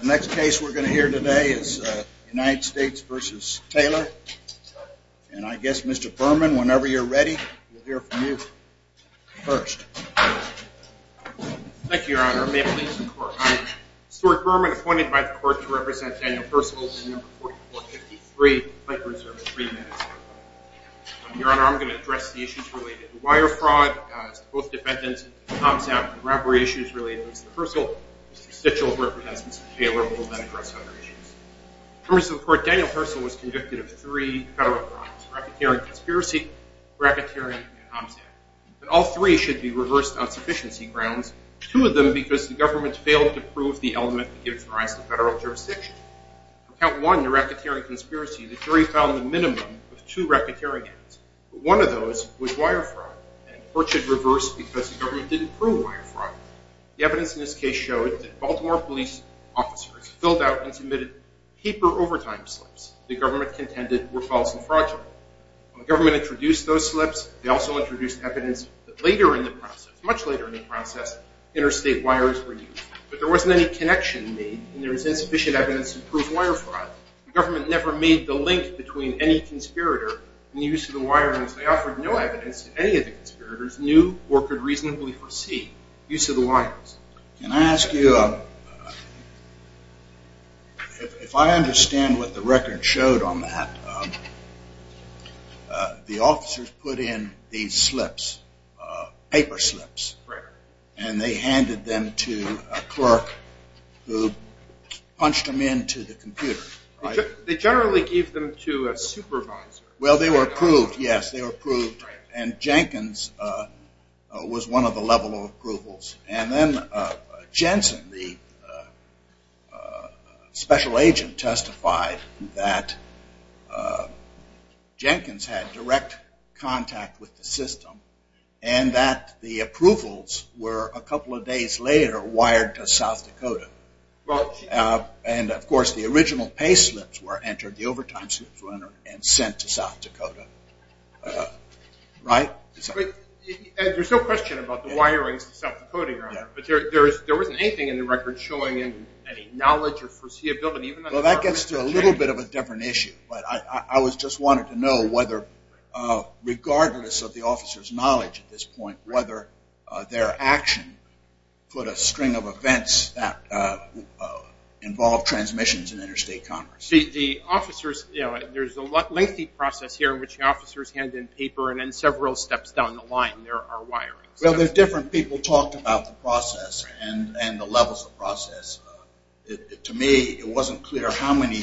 The next case we're going to hear today is United States v. Taylor and I guess Mr. Berman, whenever you're ready, we'll hear from you first. Thank you, Your Honor, I'm Stuart Berman, appointed by the court to represent Daniel Percival, number 4453. Your Honor, I'm going to address the issues related to wire fraud, to both defendants, and to Tom Zapp, and robbery issues related to Mr. Percival. Mr. Stitchell's representation of Taylor will then address other issues. In terms of the court, Daniel Percival was convicted of three federal crimes, racketeering conspiracy, racketeering, and Tom Zapp. But all three should be reversed on sufficiency grounds, two of them because the government failed to prove the element that gives rise to federal jurisdiction. On count one, the racketeering conspiracy, the jury found the minimum of two racketeering acts, but one of those was wire fraud, and the court should reverse because the government didn't prove wire fraud. The evidence in this case showed that Baltimore police officers filled out and submitted paper overtime slips the government contended were false and fraudulent. When the government introduced those slips, they also introduced evidence that later in the process, much later in the process, interstate wires were used. But there wasn't any connection made and there was any link between any conspirator and the use of the wires. They offered no evidence that any of the conspirators knew or could reasonably foresee use of the wires. Can I ask you, if I understand what the record showed on that, the officers put in these slips, paper slips, and they gave them to a supervisor? Well, they were approved, yes. And Jenkins was one of the level approvals. And then Jensen, the special agent, testified that Jenkins had direct contact with the system and that the approvals were a couple of days later wired to South Dakota. And of course, there was no question about the wirings to South Dakota, but there wasn't anything in the record showing any knowledge or foreseeability. Well, that gets to a little bit of a different issue. I just wanted to know whether, regardless of the officer's knowledge at this point, whether their action put a string of events that involved transmissions in interstate commerce. The officers handed in paper and several steps down the line there are wirings. Well, there are different people who talked about the process and the levels of the process. To me, it wasn't clear how many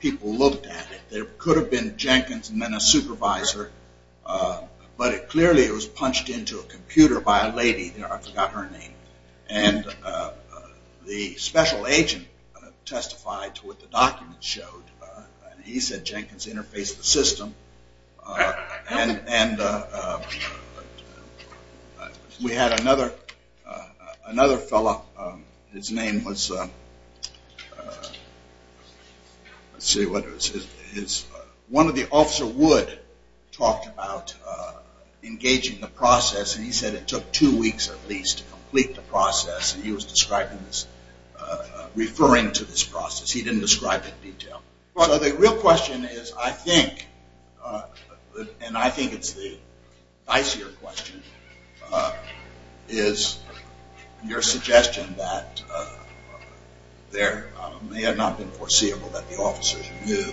people looked at it. There could have been Jenkins and then a supervisor, but clearly it was punched into a computer by a lady. I forgot her name. And the special agent testified to what the documents showed. He said Jenkins interfaced the system. And we had another fellow, his name was, let's see, one of the officer would talk about engaging the process and he said it took two weeks at least to complete the process. He was describing this, referring to this process. He didn't describe it in detail. So the real question is, I think, and I think it's the dicier question, is your suggestion that there may have not been foreseeable that the officers knew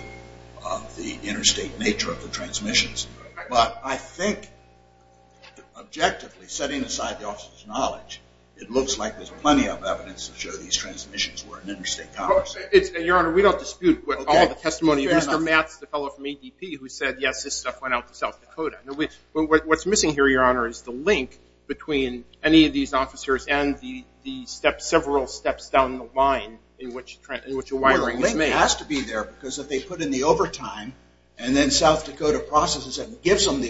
of the interstate nature of the transmissions. But I think objectively, setting aside the interstate commerce. Your Honor, we don't dispute all the testimony of Mr. Matz, the fellow from ADP who said, yes, this stuff went out to South Dakota. What's missing here, Your Honor, is the link between any of these officers and the several steps down the line in which a wiring was made. The link has to be there because if they put in the overtime and then South Dakota processes it and gives them the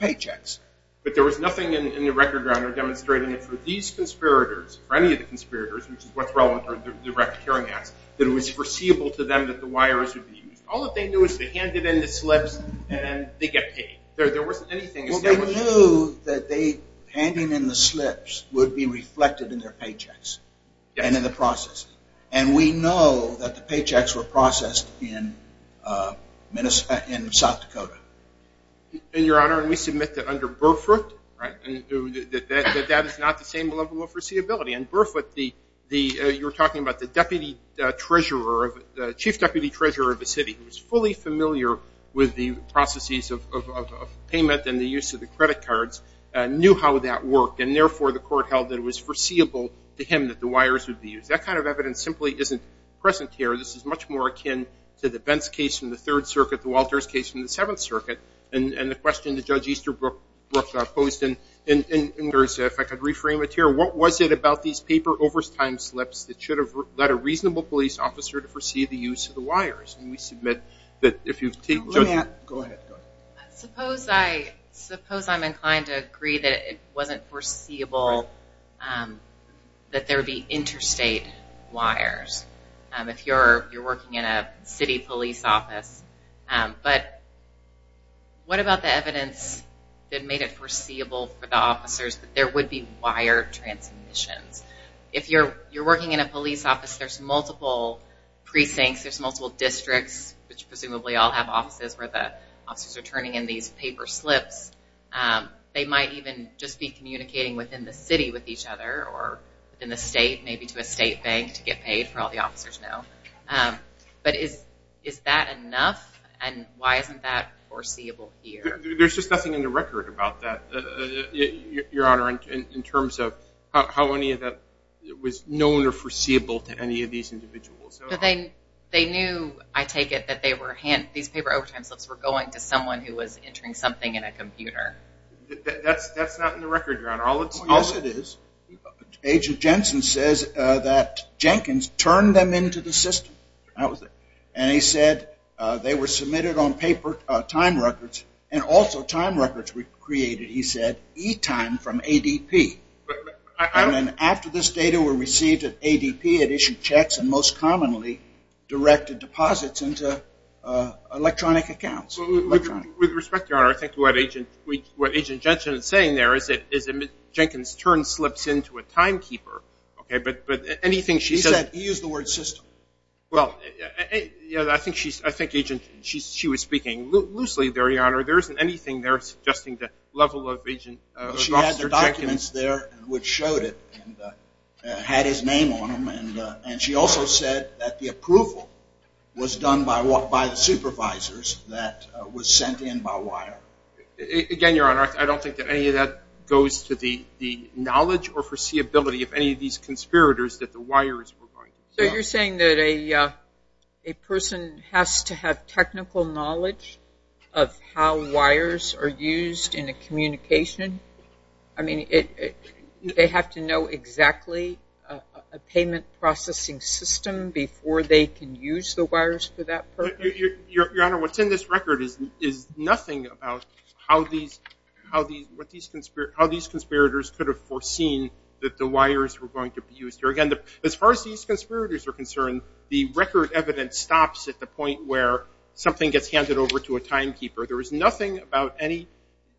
paychecks. But there was nothing in the record, Your Honor, demonstrating that for these conspirators, for any of the conspirators, which is what's relevant to the direct hearing acts, that it was foreseeable to them that the wires would be used. All they knew is they handed in the slips and they get paid. There wasn't anything establishing that. Well, they knew that handing in the slips would be reflected in their paychecks and in the process. And we know that the paychecks were under Burfoot. That is not the same level of foreseeability. And Burfoot, you were talking about the deputy treasurer, the chief deputy treasurer of the city, who was fully familiar with the processes of payment and the use of the credit cards, knew how that worked. And therefore, the court held that it was foreseeable to him that the wires would be used. That kind of evidence simply isn't present here. This is much more akin to the Bents case from the Third Circuit, the Walters case from the Seventh Circuit, and the question that Judge Easterbrook posed. And if I could reframe it here, what was it about these paper overtime slips that should have led a reasonable police officer to foresee the use of the wires? And we submit that if you've taken... Go ahead. Suppose I'm inclined to agree that it wasn't foreseeable that there would be interstate wires, if you're working in a city police office. But what about the evidence that made it foreseeable for the officers that there would be wire transmissions? If you're working in a police office, there's multiple precincts, there's multiple districts, which presumably all have offices where the officers are turning in these paper slips. They might even just be communicating within the city with each other or within the state, maybe to a state bank to get foreseeable here. There's just nothing in the record about that, Your Honor, in terms of how any of that was known or foreseeable to any of these individuals. But they knew, I take it, that these paper overtime slips were going to someone who was entering something in a computer. That's not in the record, Your Honor. Yes, it is. Agent Jensen says that Jenkins turned them into the system. And he said they were submitted on paper time records and also time records were created, he said, e-time from ADP. And then after this data were received at ADP, it issued checks and most commonly directed deposits into electronic accounts. With respect, Your Honor, I think what Agent Jensen is saying there is that Jenkins' turn slips into a timekeeper. He said he used the word system. Well, I think she was speaking loosely there, Your Honor. There isn't anything there suggesting the level of agent She had their documents there which showed it and had his name on them. And she also said that the approval was done by the supervisors that were sent in by wire. Again, Your Honor, I don't think that any of that goes to the knowledge or foreseeability of any of these conspirators that the wire is providing. So you're saying that a person has to have technical knowledge of how wires are used in a communication? I mean, they have to know exactly a payment processing system before they can use the wires for that purpose? Your Honor, what's in this record is nothing about how these conspirators could have foreseen that the wires were going to be used. Again, as far as these conspirators are concerned, the record evidence stops at the point where something gets handed over to a timekeeper. There was nothing about any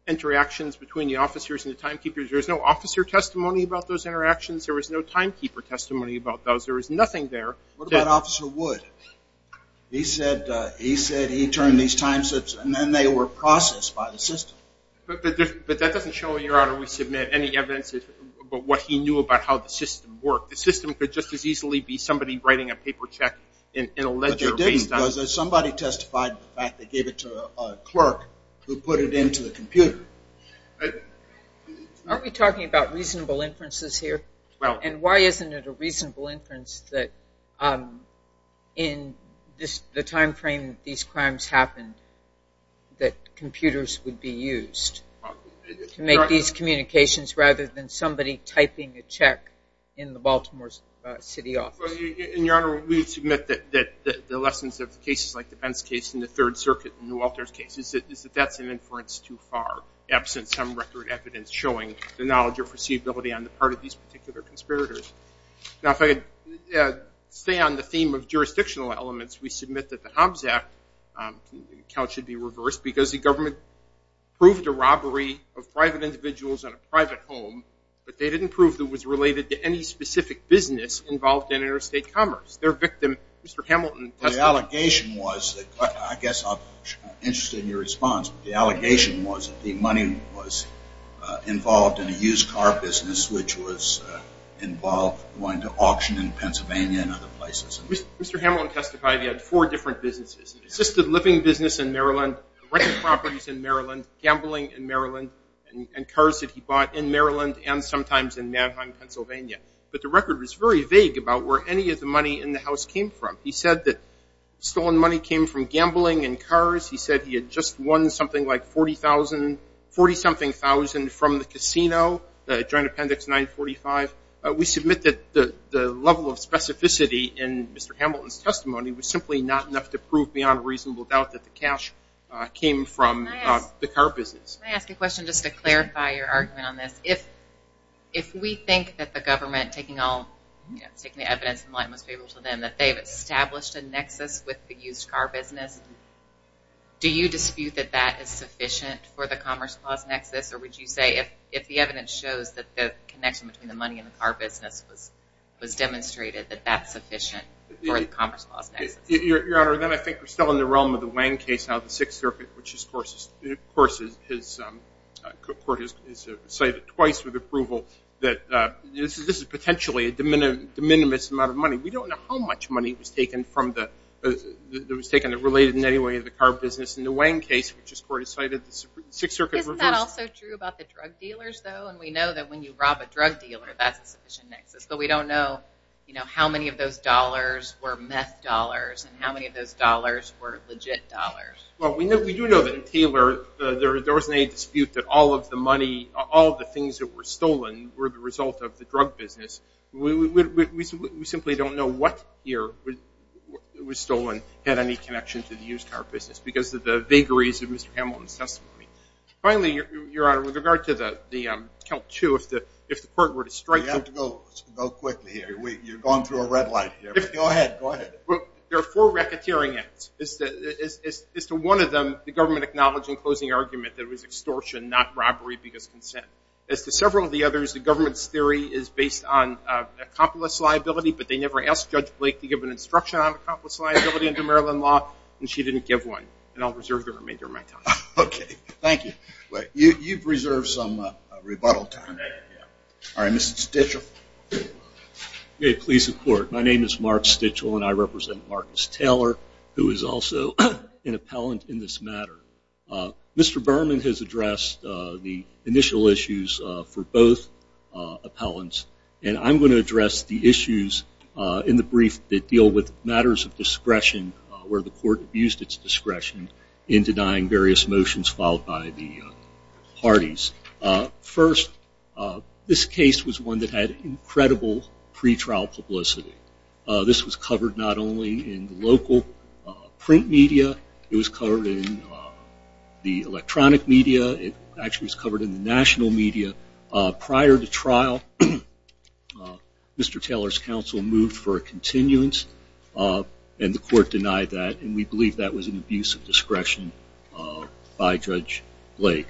interactions between the officers and the timekeepers. There was no officer testimony about those interactions. There was no timekeeper testimony about those. There was nothing there. What about Officer Wood? He said he turned these time slips and then they were processed by the system. But that doesn't show, Your Honor, we submit any evidence about what he knew about how the system worked. The system could just as easily be somebody writing a paper check in a ledger. But they didn't because somebody testified to the fact they gave it to a clerk who put it into the computer. Aren't we talking about reasonable inferences here? And why isn't it a reasonable inference that in the time frame these crimes happened that computers would be used to make these communications rather than somebody typing a check in the Baltimore City office? Your Honor, we submit that the lessons of cases like the Pence case and the Third Circuit and the Walters case is that that's an inference too far. evidence showing the knowledge or foreseeability on the part of these particular conspirators. Now, if I could stay on the theme of jurisdictional elements, we submit that the Hobbs Act account should be reversed because the government proved a robbery of private individuals in a private home, but they didn't prove it was related to any specific business involved in interstate commerce. Their victim, Mr. Hamilton, testified. I guess I'm interested in your response. The allegation was that the money was involved in a used car business, which was involved going to auction in Pennsylvania and other places. Mr. Hamilton testified he had four different businesses, assisted living business in Maryland, rental properties in Maryland, gambling in Maryland, and cars that he bought in Maryland and sometimes in Mannheim, Pennsylvania. But the record was very vague about where any of the money in the house came from. He said that stolen money came from gambling and cars. He said he had just won something like $40,000 from the casino during Appendix 945. We submit that the level of specificity in Mr. Hamilton's testimony was simply not enough to prove beyond reasonable doubt that the cash came from the car business. Can I ask a question just to clarify your argument on this? If we think that the government, taking the evidence in the light most favorable to them, that they've established a nexus with the used car business, do you dispute that that is sufficient for the commerce clause nexus? Or would you say if the evidence shows that the connection between the money and the car business was demonstrated, that that's sufficient for the commerce clause nexus? Your Honor, then I think we're still in the realm of the Wang case now, the Sixth Circuit, which of course his court has cited twice with approval that this is potentially a de minimis amount of money. We don't know how much money was taken from the related in any way to the car business. In the Wang case, which his court has cited, the Sixth Circuit reversed it. Isn't that also true about the drug dealers, though? And we know that when you rob a drug dealer, that's a sufficient nexus. But we don't know how many of those dollars were meth dollars and how many of those dollars were legit dollars. Well, we do know that in Taylor there wasn't any dispute that all of the money, all of the things that were stolen were the result of the drug business. We simply don't know what year it was stolen had any connection to the used car business because of the vagaries of Mr. Hamilton's testimony. Finally, Your Honor, with regard to the KELP-2, if the court were to strike the – We have to go quickly here. You're going through a red light here. Go ahead. Go ahead. There are four racketeering acts. As to one of them, the government acknowledged in closing argument that it was extortion, not robbery, because consent. As to several of the others, the government's theory is based on accomplice liability, but they never asked Judge Blake to give an instruction on accomplice liability under Maryland law, and she didn't give one. And I'll reserve the remainder of my time. Okay. Thank you. You've reserved some rebuttal time. All right, Mr. Stitchell. May it please the Court. My name is Mark Stitchell, and I represent Marcus Taylor, who is also an appellant in this matter. Mr. Berman has addressed the initial issues for both appellants, and I'm going to address the issues in the brief that deal with matters of discretion where the court abused its discretion in denying various motions filed by the parties. First, this case was one that had incredible pretrial publicity. This was covered not only in the local print media. It was covered in the electronic media. It actually was covered in the national media. Prior to trial, Mr. Taylor's counsel moved for a continuance, and the court denied that, and we believe that was an abuse of discretion by Judge Blake.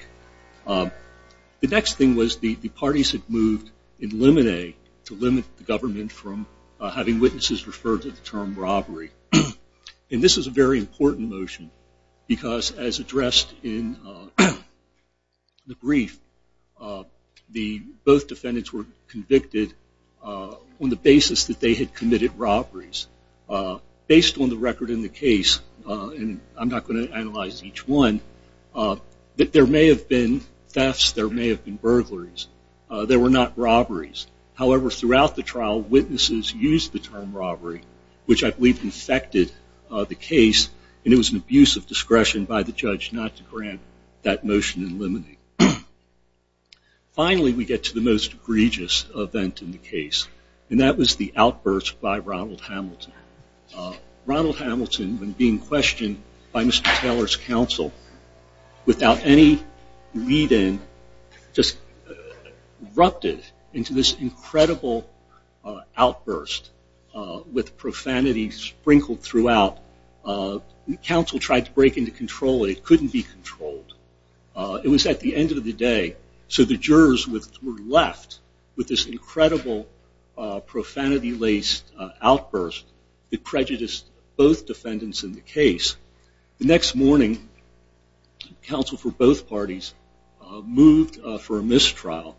The next thing was the parties had moved in limine to limit the government from having witnesses refer to the term robbery. And this is a very important motion because, as addressed in the brief, both defendants were convicted on the basis that they had committed robberies. Based on the record in the case, and I'm not going to analyze each one, that there may have been thefts, there may have been burglaries, there were not robberies. However, throughout the trial, witnesses used the term robbery, which I believe infected the case, and it was an abuse of discretion by the judge not to grant that motion in limine. Finally, we get to the most egregious event in the case, and that was the outburst by Ronald Hamilton. Ronald Hamilton, when being questioned by Mr. Taylor's counsel without any lead-in, just erupted into this incredible outburst with profanity sprinkled throughout. The counsel tried to break into control, and it couldn't be controlled. It was at the end of the day, so the jurors were left with this incredible profanity-laced outburst that prejudiced both defendants in the case. The next morning, counsel for both parties moved for a mistrial,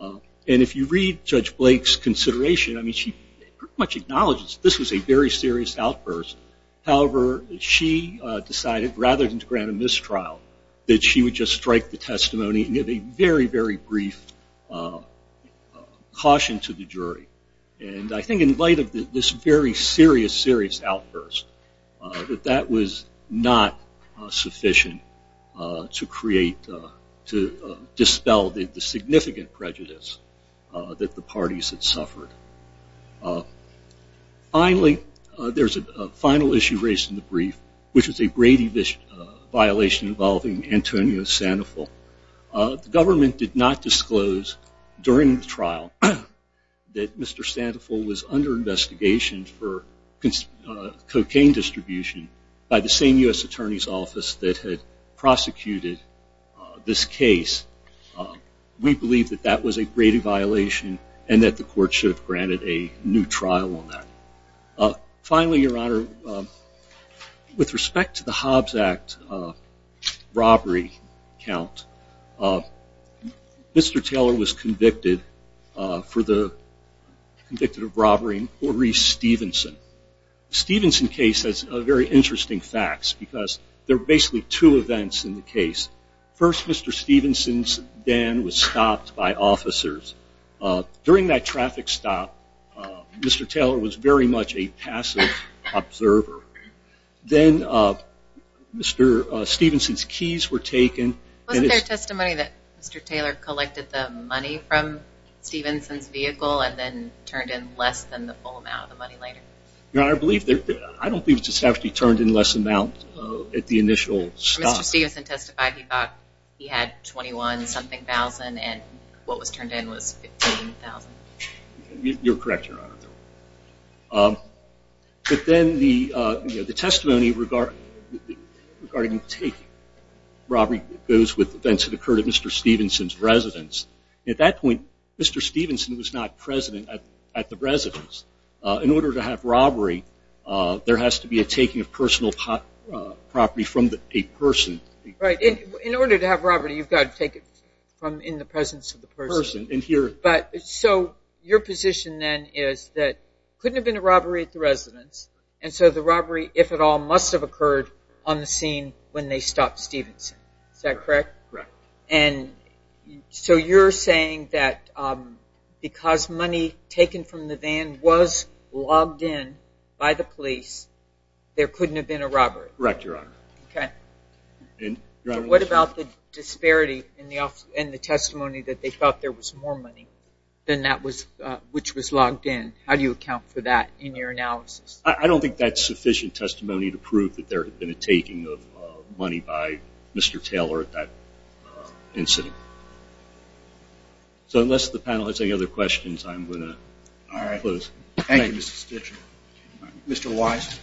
and if you read Judge Blake's consideration, she pretty much acknowledges this was a very serious outburst. However, she decided, rather than to grant a mistrial, that she would just strike the testimony and give a very, very brief caution to the jury. And I think in light of this very serious, serious outburst, that that was not sufficient to create, to dispel the significant prejudice that the parties had suffered. Finally, there's a final issue raised in the brief, which is a Brady violation involving Antonio Sandoval. The government did not disclose, during the trial, that Mr. Sandoval was under investigation for cocaine distribution by the same U.S. Attorney's Office that had prosecuted this case. We believe that that was a Brady violation, and that the court should have granted a new trial on that. Finally, Your Honor, with respect to the Hobbs Act robbery count, Mr. Taylor was convicted for the, convicted of robbery in Porter E. Stevenson. The Stevenson case has very interesting facts, because there are basically two events in the case. First, Mr. Stevenson's den was stopped by officers. During that traffic stop, Mr. Taylor was very much a passive observer. Then, Mr. Stevenson's keys were taken. Wasn't there testimony that Mr. Taylor collected the money from Stevenson's vehicle and then turned in less than the full amount of the money later? Your Honor, I believe there, I don't believe it was actually turned in less amount at the initial stop. Mr. Stevenson testified he thought he had $21-something thousand, and what was turned in was $15,000. You're correct, Your Honor. But then the testimony regarding taking robbery goes with events that occurred at Mr. Stevenson's residence. At that point, Mr. Stevenson was not president at the residence. In order to have robbery, there has to be a taking of personal property from a person. Right. In order to have robbery, you've got to take it from in the presence of the person. So your position then is that there couldn't have been a robbery at the residence, and so the robbery, if at all, must have occurred on the scene when they stopped Stevenson. Is that correct? Correct. And so you're saying that because money taken from the van was logged in by the police, there couldn't have been a robbery. Correct, Your Honor. Okay. What about the disparity in the testimony that they thought there was more money than that was, which was logged in? How do you account for that in your analysis? I don't think that's sufficient testimony to prove that there had been a taking of money by Mr. Taylor at that incident. So unless the panel has any other questions, I'm going to close. Thank you, Mr. Stitcher. Mr. Wise.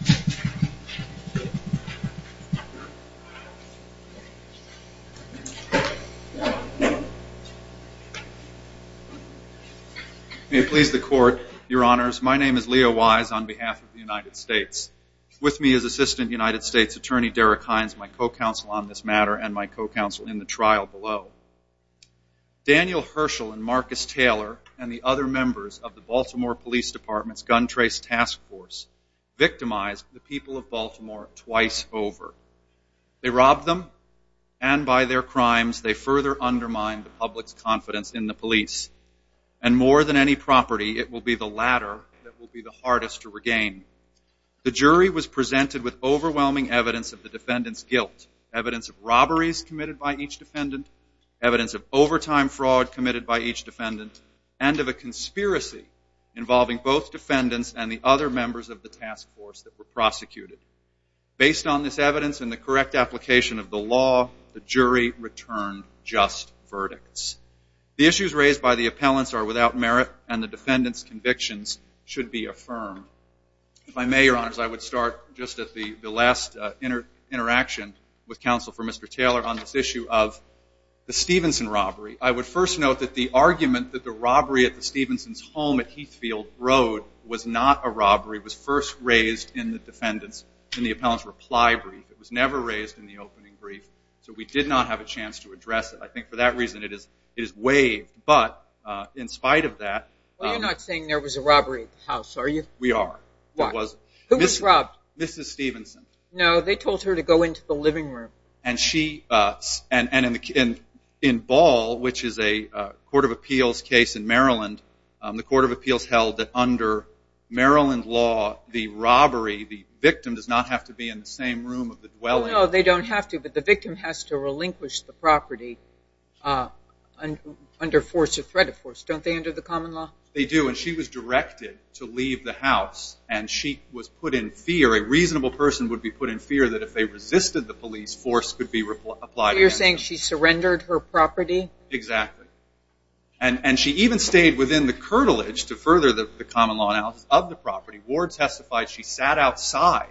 May it please the Court, Your Honors. My name is Leo Wise on behalf of the United States. With me is Assistant United States Attorney Derek Hines, my co-counsel on this matter, and my co-counsel in the trial below. Daniel Herschel and Marcus Taylor and the other members of the Baltimore Police Department's Gun Trace Task Force victimized the people of Baltimore twice over. They robbed them, and by their crimes, they further undermined the public's confidence in the police. And more than any property, it will be the latter that will be the hardest to regain. The jury was presented with overwhelming evidence of the defendants' guilt, evidence of robberies committed by each defendant, evidence of overtime fraud committed by each defendant, and of a conspiracy involving both defendants and the other members of the task force that were prosecuted. Based on this evidence and the correct application of the law, the jury returned just verdicts. The issues raised by the appellants are without merit, and the defendants' convictions should be affirmed. If I may, Your Honors, I would start just at the last interaction with counsel for Mr. Taylor on this issue of the Stephenson robbery. I would first note that the argument that the robbery at the Stephenson's home at Heathfield Road was not a robbery was first raised in the defendant's, in the appellant's reply brief. It was never raised in the opening brief, so we did not have a chance to address it. I think for that reason it is waived. But in spite of that- Well, you're not saying there was a robbery at the house, are you? We are. Why? Who was robbed? Mrs. Stephenson. No, they told her to go into the living room. And she, and in Ball, which is a court of appeals case in Maryland, the court of appeals held that under Maryland law, the robbery, the victim does not have to be in the same room of the dwelling. Well, no, they don't have to, but the victim has to relinquish the property under force or threat of force. Don't they under the common law? They do, and she was directed to leave the house, and she was put in fear. A reasonable person would be put in fear that if they resisted the police, force could be applied against them. You're saying she surrendered her property? Exactly. And she even stayed within the curtilage to further the common law analysis of the property. Ward testified she sat outside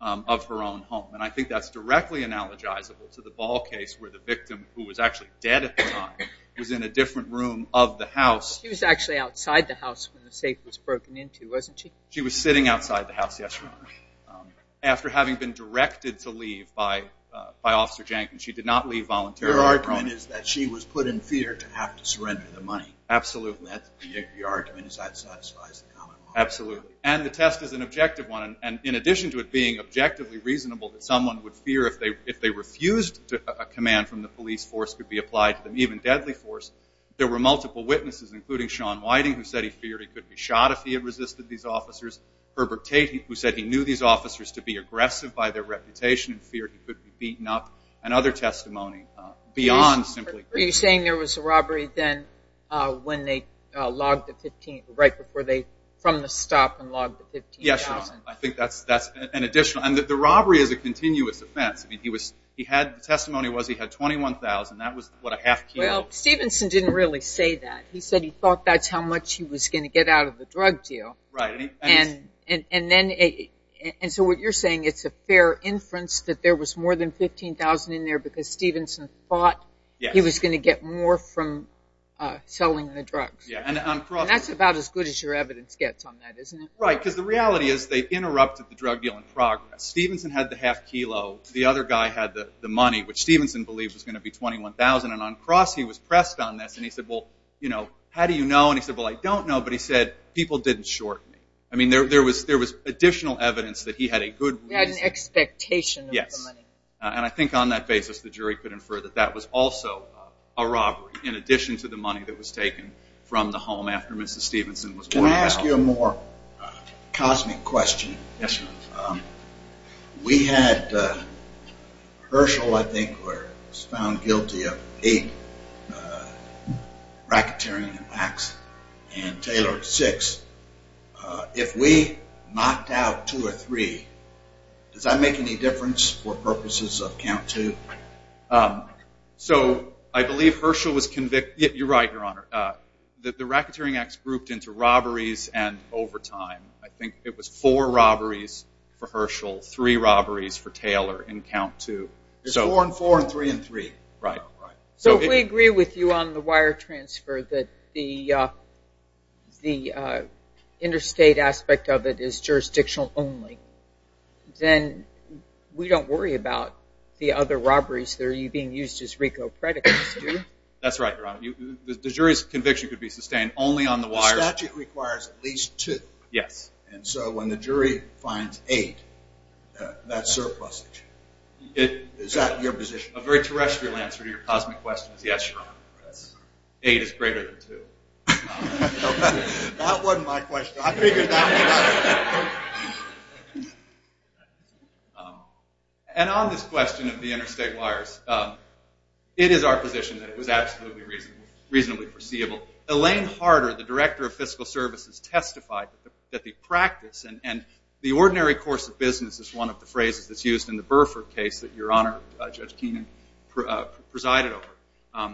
of her own home. And I think that's directly analogizable to the Ball case where the victim, who was actually dead at the time, was in a different room of the house. She was actually outside the house when the safe was broken into, wasn't she? She was sitting outside the house, yes, Your Honor, after having been directed to leave by Officer Jenkins. She did not leave voluntarily. Her argument is that she was put in fear to have to surrender the money. Absolutely. The argument is that satisfies the common law. Absolutely. And the test is an objective one, and in addition to it being objectively reasonable that someone would fear if they refused a command from the police, force could be applied to them, even deadly force, there were multiple witnesses, including Sean Whiting, who said he feared he could be shot if he had resisted these officers, Herbert Tate, who said he knew these officers to be aggressive by their reputation and feared he could be beaten up, and other testimony beyond simply fear. Are you saying there was a robbery then when they logged the 15, right before they, from the stop and logged the 15,000? Yes, Your Honor. I think that's an additional, and the robbery is a continuous offense. I mean, he was, he had, the testimony was he had 21,000. That was what a half kilo. Well, Stevenson didn't really say that. He said he thought that's how much he was going to get out of the drug deal. Right. And then, and so what you're saying, it's a fair inference that there was more than 15,000 in there because Stevenson thought he was going to get more from selling the drugs. And that's about as good as your evidence gets on that, isn't it? Right, because the reality is they interrupted the drug deal in progress. Stevenson had the half kilo. The other guy had the money, which Stevenson believed was going to be 21,000, and on cross he was pressed on this, and he said, well, you know, how do you know? And he said, well, I don't know, but he said people didn't short me. I mean, there was additional evidence that he had a good reason. He had an expectation of the money. And I think on that basis the jury could infer that that was also a robbery in addition to the money that was taken from the home after Mrs. Stevenson was going to be out. Can I ask you a more cosmic question? Yes, sir. We had Herschel, I think, was found guilty of eight racketeering attacks and Taylor six. If we knocked out two or three, does that make any difference for purposes of count two? So I believe Herschel was convicted. You're right, Your Honor. The racketeering acts grouped into robberies and overtime. I think it was four robberies for Herschel, three robberies for Taylor in count two. Four and four and three and three. Right. So if we agree with you on the wire transfer that the interstate aspect of it is jurisdictional only, then we don't worry about the other robberies that are being used as RICO predicates, do we? That's right, Your Honor. The jury's conviction could be sustained only on the wires. The statute requires at least two. Yes. And so when the jury finds eight, that's surplusage. Is that your position? A very terrestrial answer to your cosmic question is yes, Your Honor. Eight is greater than two. That wasn't my question. I figured that one out. And on this question of the interstate wires, it is our position that it was absolutely reasonably foreseeable. Elaine Harder, the director of fiscal services, testified that the practice and the ordinary course of business is one of the phrases that's used in the Burford case that Your Honor, Judge Keenan, presided over.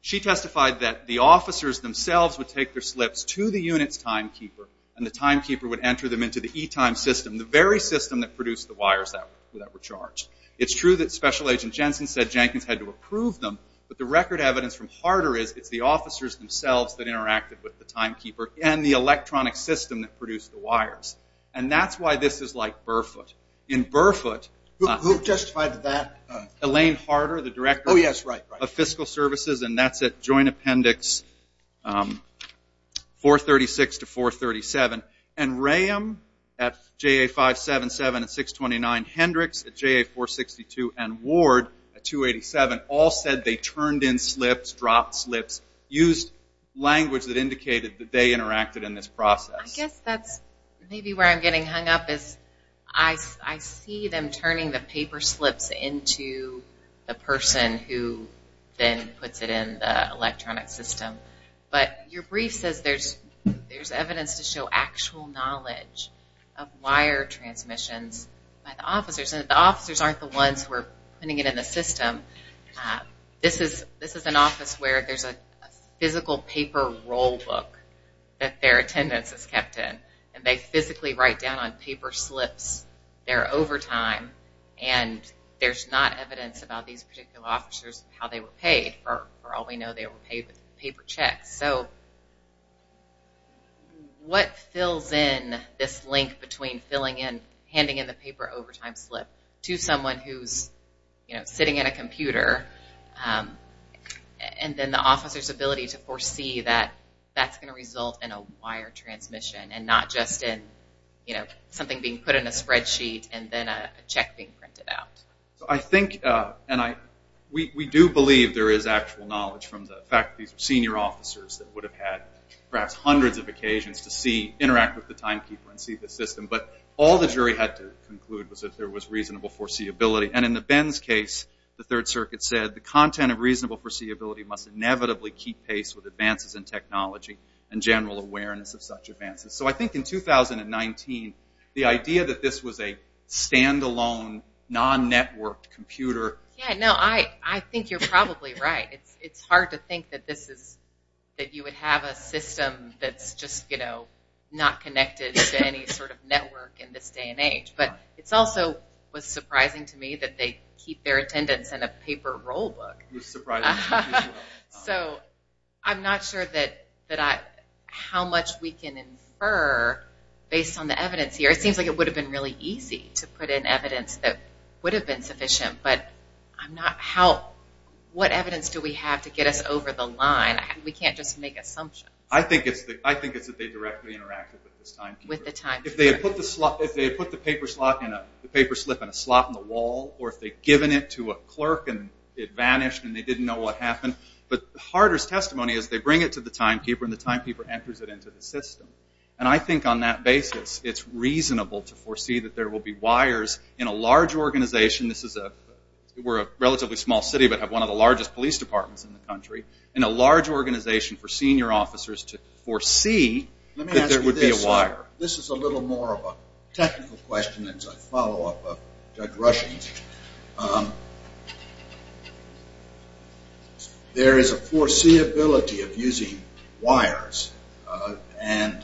She testified that the officers themselves would take their slips to the unit's timekeeper and the timekeeper would enter them into the e-time system, the very system that produced the wires that were charged. It's true that Special Agent Jensen said Jenkins had to approve them, but the record evidence from Harder is it's the officers themselves that interacted with the timekeeper and the electronic system that produced the wires. And that's why this is like Burford. In Burford... Who testified to that? Elaine Harder, the director of fiscal services, and that's at Joint Appendix 436 to 437. And Raham at JA 577 and 629, Hendricks at JA 462, and Ward at 287 all said they turned in slips, dropped slips, used language that indicated that they interacted in this process. I guess that's maybe where I'm getting hung up is I see them turning the paper slips into the person who then puts it in the electronic system. But your brief says there's evidence to show actual knowledge of wire transmissions by the officers, and the officers aren't the ones who are putting it in the system. This is an office where there's a physical paper roll book that their attendance is kept in, and they physically write down on paper slips their overtime, and there's not evidence about these particular officers, how they were paid. For all we know, they were paid with paper checks. So what fills in this link between handing in the paper overtime slip to someone who's sitting at a computer and then the officer's ability to foresee that that's going to result in a wire transmission and not just something being put in a spreadsheet and then a check being printed out? We do believe there is actual knowledge from the fact that these are senior officers that would have had perhaps hundreds of occasions to interact with the timekeeper and see the system, but all the jury had to conclude was that there was reasonable foreseeability. And in the Ben's case, the Third Circuit said, the content of reasonable foreseeability must inevitably keep pace with advances in technology and general awareness of such advances. So I think in 2019, the idea that this was a stand-alone, non-networked computer... Yeah, no, I think you're probably right. It's hard to think that you would have a system that's just not connected to any sort of network in this day and age. But it also was surprising to me that they keep their attendance in a paper roll book. It was surprising to me as well. So I'm not sure how much we can infer based on the evidence here. It seems like it would have been really easy to put in evidence that would have been sufficient, but what evidence do we have to get us over the line? We can't just make assumptions. I think it's that they directly interacted with this timekeeper. If they had put the paper slip in a slot in the wall, or if they'd given it to a clerk and it vanished and they didn't know what happened. But the hardest testimony is they bring it to the timekeeper, and the timekeeper enters it into the system. And I think on that basis, it's reasonable to foresee that there will be wires in a large organization. We're a relatively small city, but have one of the largest police departments in the country. In a large organization for senior officers to foresee that there would be a wire. This is a little more of a technical question. It's a follow-up of Judge Rushing's. There is a foreseeability of using wires, and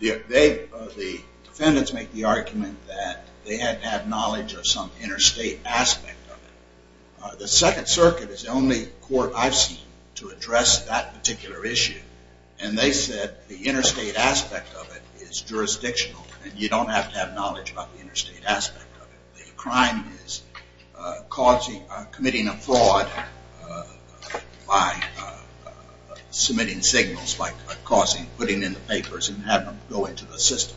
the defendants make the argument that they had to have knowledge of some interstate aspect of it. The Second Circuit is the only court I've seen to address that particular issue, and they said the interstate aspect of it is jurisdictional, and you don't have to have knowledge about the interstate aspect of it. The crime is committing a fraud by submitting signals, by putting in the papers and having them go into the system.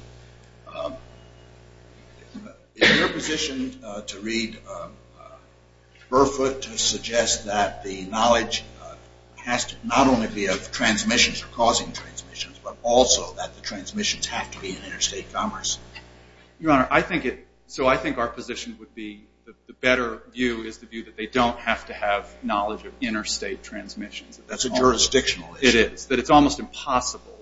Is your position to read Burfoot to suggest that the knowledge has to not only be of transmissions or causing transmissions, but also that the transmissions have to be in interstate commerce? Your Honor, I think our position would be the better view is that they don't have to have knowledge of interstate transmissions. That's a jurisdictional issue. It is. It's almost impossible,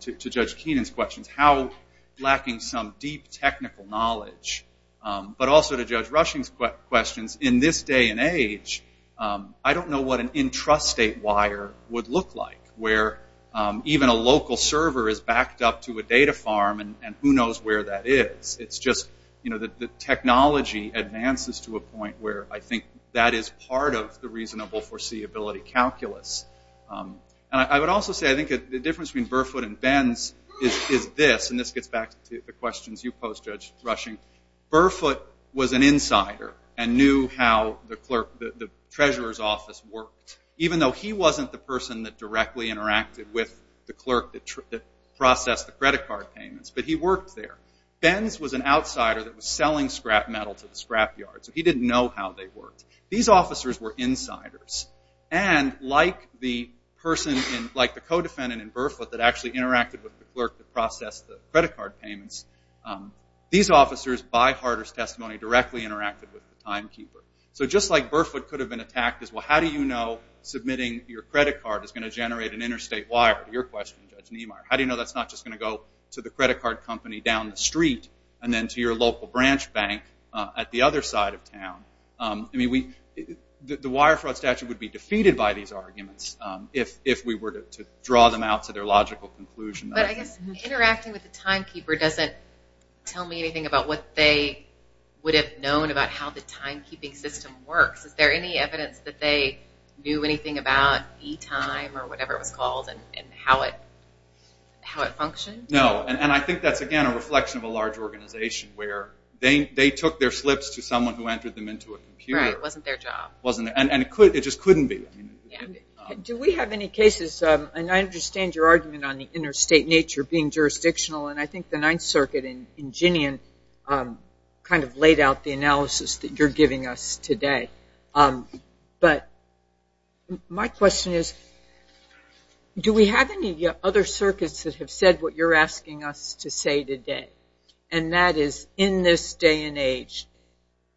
to Judge Keenan's questions, how lacking some deep technical knowledge, but also to Judge Rushing's questions, in this day and age, I don't know what an intrastate wire would look like, where even a local server is backed up to a data farm, and who knows where that is. It's just the technology advances to a point where I think that is part of the reasonable foreseeability calculus. I would also say I think the difference between Burfoot and Benz is this, and this gets back to the questions you posed, Judge Rushing. Burfoot was an insider and knew how the Treasurer's Office worked, even though he wasn't the person that directly interacted with the clerk that processed the credit card payments, but he worked there. Benz was an outsider that was selling scrap metal to the scrap yard, so he didn't know how they worked. These officers were insiders, and like the person, like the co-defendant in Burfoot, that actually interacted with the clerk that processed the credit card payments, these officers, by Harter's testimony, directly interacted with the timekeeper. So just like Burfoot could have been attacked as, well, how do you know submitting your credit card is going to generate an interstate wire, to your question, Judge Niemeyer, how do you know that's not just going to go to the credit card company down the street and then to your local branch bank at the other side of town? I mean, the wire fraud statute would be defeated by these arguments if we were to draw them out to their logical conclusion. But I guess interacting with the timekeeper doesn't tell me anything about what they would have known about how the timekeeping system works. Is there any evidence that they knew anything about e-time or whatever it was called and how it functioned? No, and I think that's, again, a reflection of a large organization where they took their slips to someone who entered them into a computer. Right, it wasn't their job. And it just couldn't be. Do we have any cases, and I understand your argument on the interstate nature being jurisdictional, and I think the Ninth Circuit in Ginian kind of laid out the analysis that you're giving us today. But my question is, do we have any other circuits that have said what you're asking us to say today, and that is, in this day and age,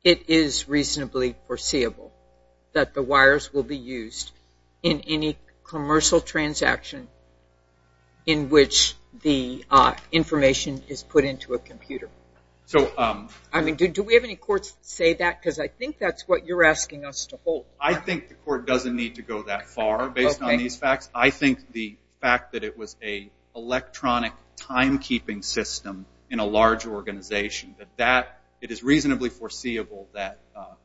it is reasonably foreseeable that the wires will be used in any commercial transaction in which the information is put into a computer. Do we have any courts that say that? Because I think that's what you're asking us to hold. I think the court doesn't need to go that far based on these facts. I think the fact that it was an electronic timekeeping system in a large organization, that it is reasonably foreseeable that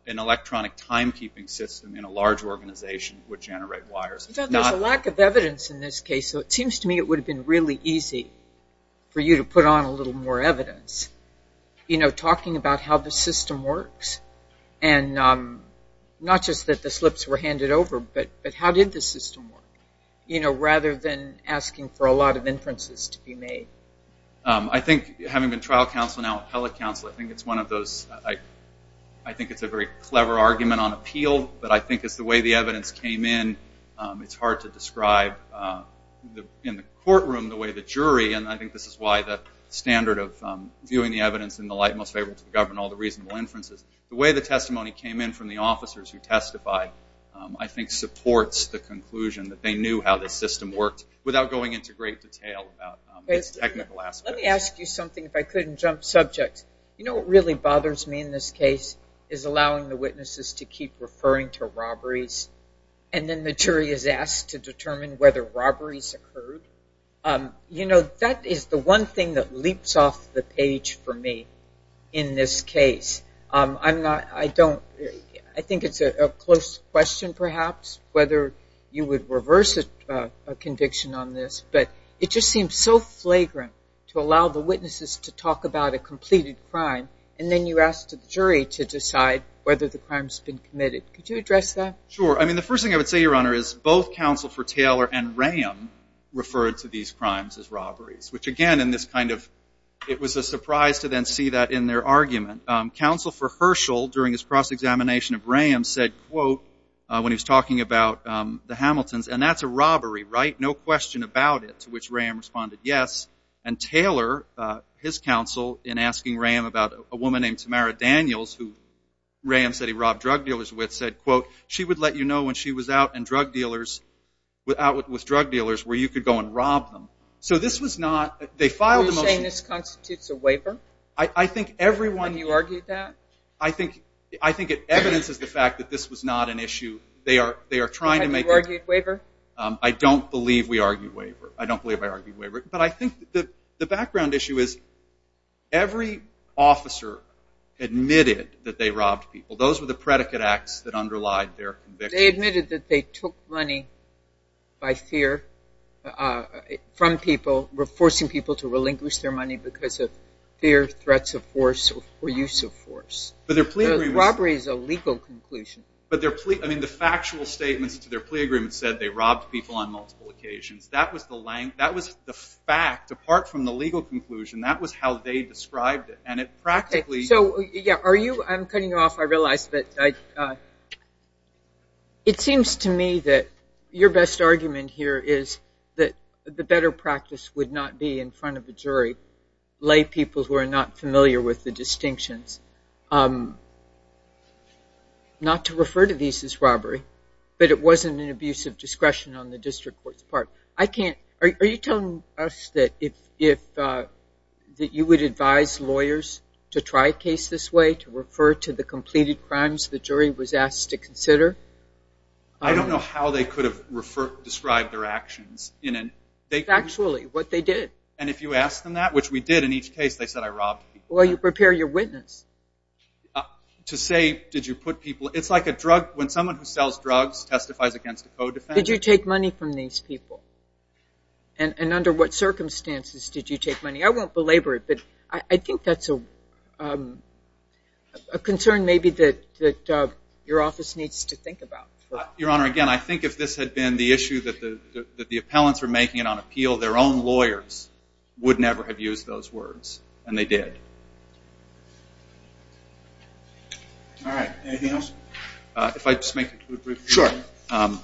an electronic timekeeping system in a large organization would generate wires. I thought there was a lack of evidence in this case, so it seems to me it would have been really easy for you to put on a little more evidence, you know, talking about how the system works, and not just that the slips were handed over, but how did the system work, you know, rather than asking for a lot of inferences to be made. I think, having been trial counsel, now appellate counsel, I think it's one of those, I think it's a very clever argument on appeal, but I think it's the way the evidence came in. It's hard to describe in the courtroom the way the jury, and I think this is why the standard of viewing the evidence in the light most favorable to the government, all the reasonable inferences, the way the testimony came in from the officers who testified, I think supports the conclusion that they knew how the system worked, without going into great detail about its technical aspects. Let me ask you something, if I couldn't jump subjects. You know what really bothers me in this case is allowing the witnesses to keep referring to robberies, and then the jury is asked to determine whether robberies occurred. You know, that is the one thing that leaps off the page for me in this case. I'm not, I don't, I think it's a close question perhaps, whether you would reverse a conviction on this, but it just seems so flagrant to allow the witnesses to talk about a completed crime, and then you ask the jury to decide whether the crime's been committed. Could you address that? Sure. I mean, the first thing I would say, Your Honor, is both Counsel for Taylor and Raham referred to these crimes as robberies, which again in this kind of, it was a surprise to then see that in their argument. Counsel for Herschel during his cross-examination of Raham said, quote, when he was talking about the Hamiltons, and that's a robbery, right? No question about it, to which Raham responded yes. And Taylor, his counsel, in asking Raham about a woman named Tamara Daniels, who Raham said he robbed drug dealers with, said, quote, she would let you know when she was out with drug dealers where you could go and rob them. So this was not, they filed a motion. Are you saying this constitutes a waiver? I think everyone. You argued that? I think it evidences the fact that this was not an issue. They are trying to make it. Have you argued waiver? I don't believe we argued waiver. I don't believe I argued waiver. But I think the background issue is every officer admitted that they robbed people. Those were the predicate acts that underlied their conviction. They admitted that they took money by fear from people, forcing people to relinquish their money because of fear, threats of force, or use of force. Robbery is a legal conclusion. But their plea, I mean, the factual statements to their plea agreement said they robbed people on multiple occasions. That was the fact, apart from the legal conclusion. That was how they described it. And it practically. So, yeah, are you, I'm cutting you off. It seems to me that your best argument here is that the better practice would not be in front of a jury, lay people who are not familiar with the distinctions, not to refer to these as robbery, but it wasn't an abuse of discretion on the district court's part. Are you telling us that you would advise lawyers to try a case this way, to refer to the completed crimes the jury was asked to consider? I don't know how they could have described their actions. Factually, what they did. And if you ask them that, which we did in each case, they said I robbed people. Well, you prepare your witness. To say, did you put people, it's like a drug, when someone who sells drugs testifies against a co-defendant. Did you take money from these people? And under what circumstances did you take money? I won't belabor it, but I think that's a concern maybe that your office needs to think about. Your Honor, again, I think if this had been the issue that the appellants were making it on appeal, their own lawyers would never have used those words. And they did. All right. Anything else? If I could just make a brief comment. Sure.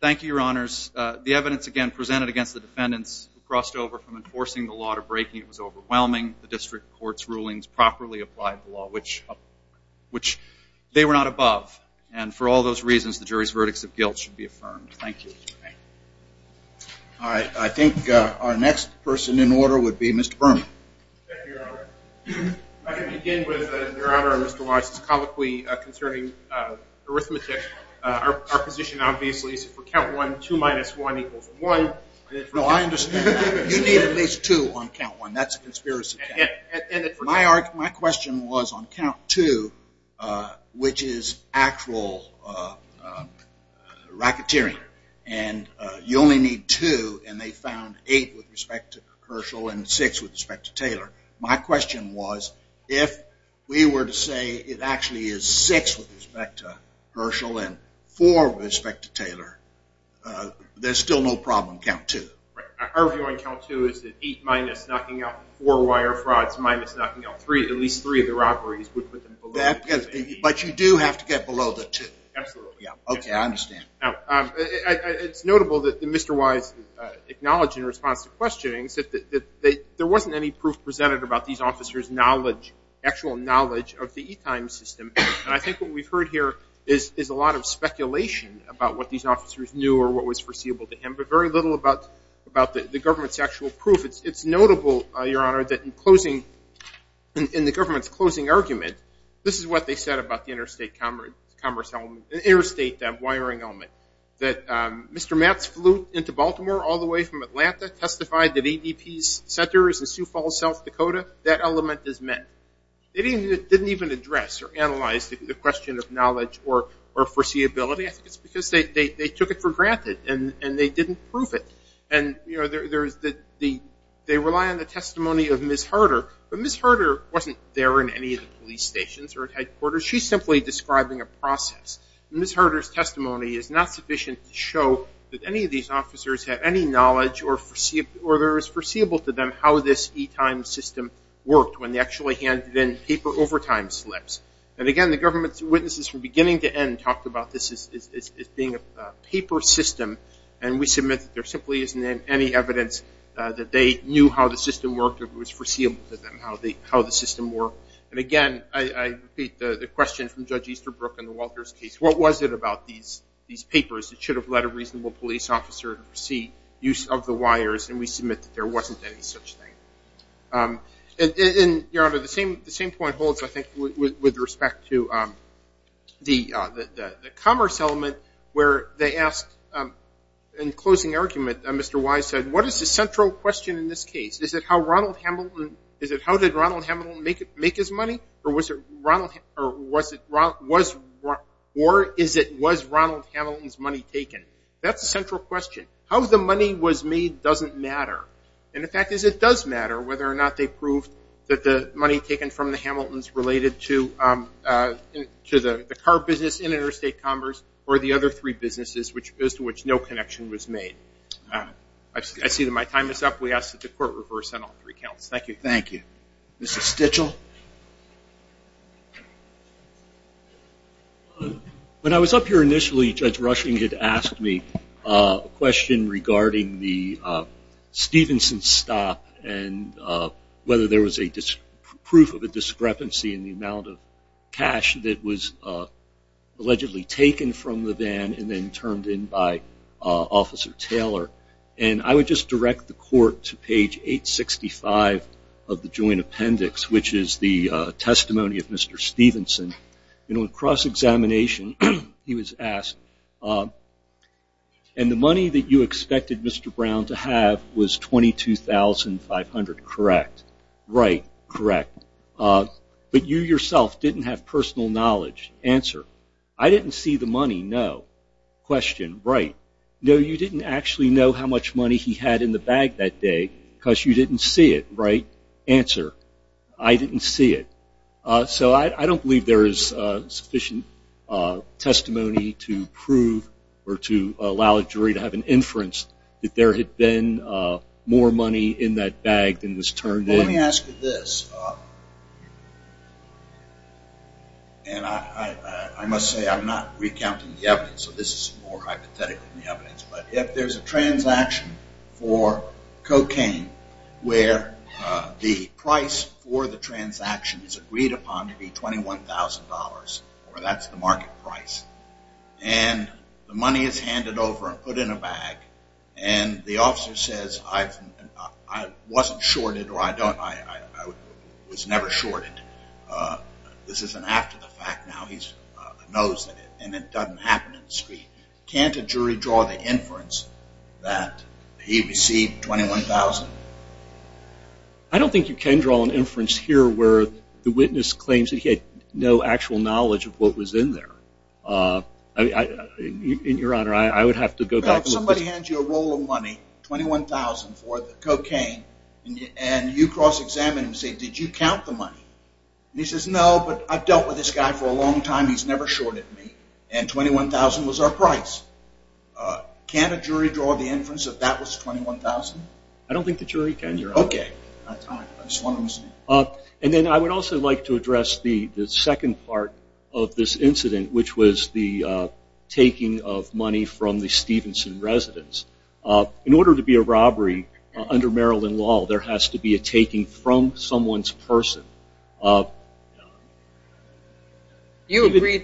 Thank you, Your Honors. The evidence, again, presented against the defendants crossed over from enforcing the law to breaking it was overwhelming. The district court's rulings properly applied the law, which they were not above. And for all those reasons, the jury's verdicts of guilt should be affirmed. Thank you. All right. I think our next person in order would be Mr. Berman. Thank you, Your Honor. I can begin with, Your Honor, Mr. Weiss. It's colloquy concerning arithmetic. Our position, obviously, is for count one, two minus one equals one. No, I understand. You need at least two on count one. That's a conspiracy. My question was on count two, which is actual racketeering, and you only need two, and they found eight with respect to Herschel and six with respect to Taylor. My question was if we were to say it actually is six with respect to Herschel and four with respect to Taylor, there's still no problem on count two. Our view on count two is that eight minus knocking out four wire frauds minus knocking out three, at least three of the robberies, would put them below the two. But you do have to get below the two. Absolutely. Okay, I understand. Now, it's notable that Mr. Weiss acknowledged in response to questioning that there wasn't any proof presented about these officers' actual knowledge of the e-time system. And I think what we've heard here is a lot of speculation about what these officers knew or what was foreseeable to him, but very little about the government's actual proof. It's notable, Your Honor, that in the government's closing argument, this is what they said about the interstate commerce element, the interstate wiring element, that Mr. Matz flew into Baltimore all the way from Atlanta, testified that ADP's center is in Sioux Falls, South Dakota. That element is met. They didn't even address or analyze the question of knowledge or foreseeability. I think it's because they took it for granted and they didn't prove it. And, you know, they rely on the testimony of Ms. Harder, but Ms. Harder wasn't there in any of the police stations or headquarters. She's simply describing a process. Ms. Harder's testimony is not sufficient to show that any of these officers have any knowledge or there is foreseeable to them how this e-time system worked when they actually handed in paper overtime slips. And, again, the government's witnesses from beginning to end talked about this as being a paper system, and we submit that there simply isn't any evidence that they knew how the system worked or it was foreseeable to them how the system worked. And, again, I repeat the question from Judge Easterbrook in the Walters case, what was it about these papers that should have led a reasonable police officer to foresee use of the wires, and we submit that there wasn't any such thing. And, Your Honor, the same point holds, I think, with respect to the commerce element where they asked in closing argument, Mr. Wise said, what is the central question in this case? Is it how did Ronald Hamilton make his money, or was it was Ronald Hamilton's money taken? That's the central question. How the money was made doesn't matter. And, in fact, it does matter whether or not they proved that the money taken from the Hamiltons related to the car business in interstate commerce or the other three businesses as to which no connection was made. I see that my time is up. We ask that the Court reverse on all three counts. Thank you. Thank you. Mr. Stichel. When I was up here initially, Judge Rushing had asked me a question regarding the Stevenson stop and whether there was a proof of a discrepancy in the amount of cash that was allegedly taken from the van and then turned in by Officer Taylor. And I would just direct the Court to page 865 of the Joint Appendix, which is the testimony of Mr. Stevenson. In cross-examination, he was asked, and the money that you expected Mr. Brown to have was $22,500, correct? Right. Correct. But you yourself didn't have personal knowledge. Answer. I didn't see the money. No. Question. Right. No, you didn't actually know how much money he had in the bag that day because you didn't see it. Right. Answer. I didn't see it. So I don't believe there is sufficient testimony to prove or to allow a jury to have an inference that there had been more money in that bag than was turned in. Let me ask you this. And I must say I'm not recounting the evidence, so this is more hypothetical than the evidence. But if there's a transaction for cocaine where the price for the transaction is agreed upon to be $21,000, or that's the market price, and the money is handed over and put in a bag, and the officer says, I wasn't shorted or I was never shorted, this is an after the fact now, he knows that it doesn't happen in the street, can't a jury draw the inference that he received $21,000? I don't think you can draw an inference here where the witness claims that he had no actual knowledge of what was in there. Your Honor, I would have to go back. Suppose somebody hands you a roll of money, $21,000 for the cocaine, and you cross-examine him and say, did you count the money? And he says, no, but I've dealt with this guy for a long time. He's never shorted me. And $21,000 was our price. Can't a jury draw the inference that that was $21,000? I don't think the jury can, Your Honor. Okay. And then I would also like to address the second part of this incident, which was the taking of money from the Stevenson residence. In order to be a robbery under Maryland law, there has to be a taking from someone's person. Do you agree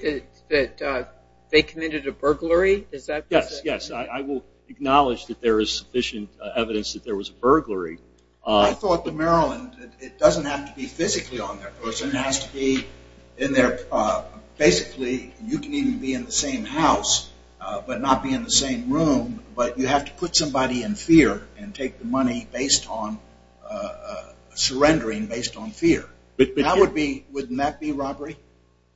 that they committed a burglary? Yes, yes. I will acknowledge that there is sufficient evidence that there was a burglary. I thought that Maryland, it doesn't have to be physically on their person. It doesn't have to be in their – basically, you can even be in the same house but not be in the same room, but you have to put somebody in fear and take the money based on surrendering, based on fear. Wouldn't that be robbery?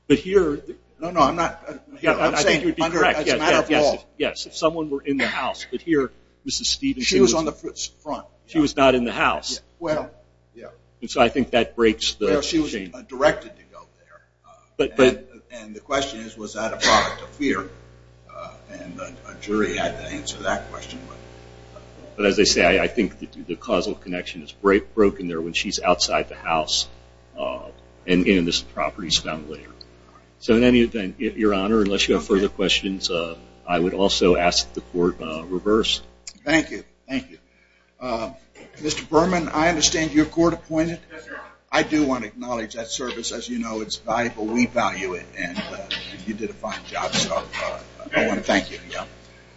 But here – No, no, I'm not – I'm saying it would be correct. It's a matter of law. Yes, if someone were in the house, but here Mrs. Stevenson was – She was on the front. She was not in the house. So I think that breaks the chain. She was directed to go there. And the question is, was that a product of fear? And a jury had to answer that question. But as I say, I think the causal connection is broken there when she's outside the house and in this property is found later. So in any event, Your Honor, unless you have further questions, I would also ask the Court reverse. Thank you, thank you. Mr. Berman, I understand you're court-appointed. Yes, Your Honor. I do want to acknowledge that service. As you know, it's valuable. We value it. And you did a fine job, so I want to thank you. Thank you.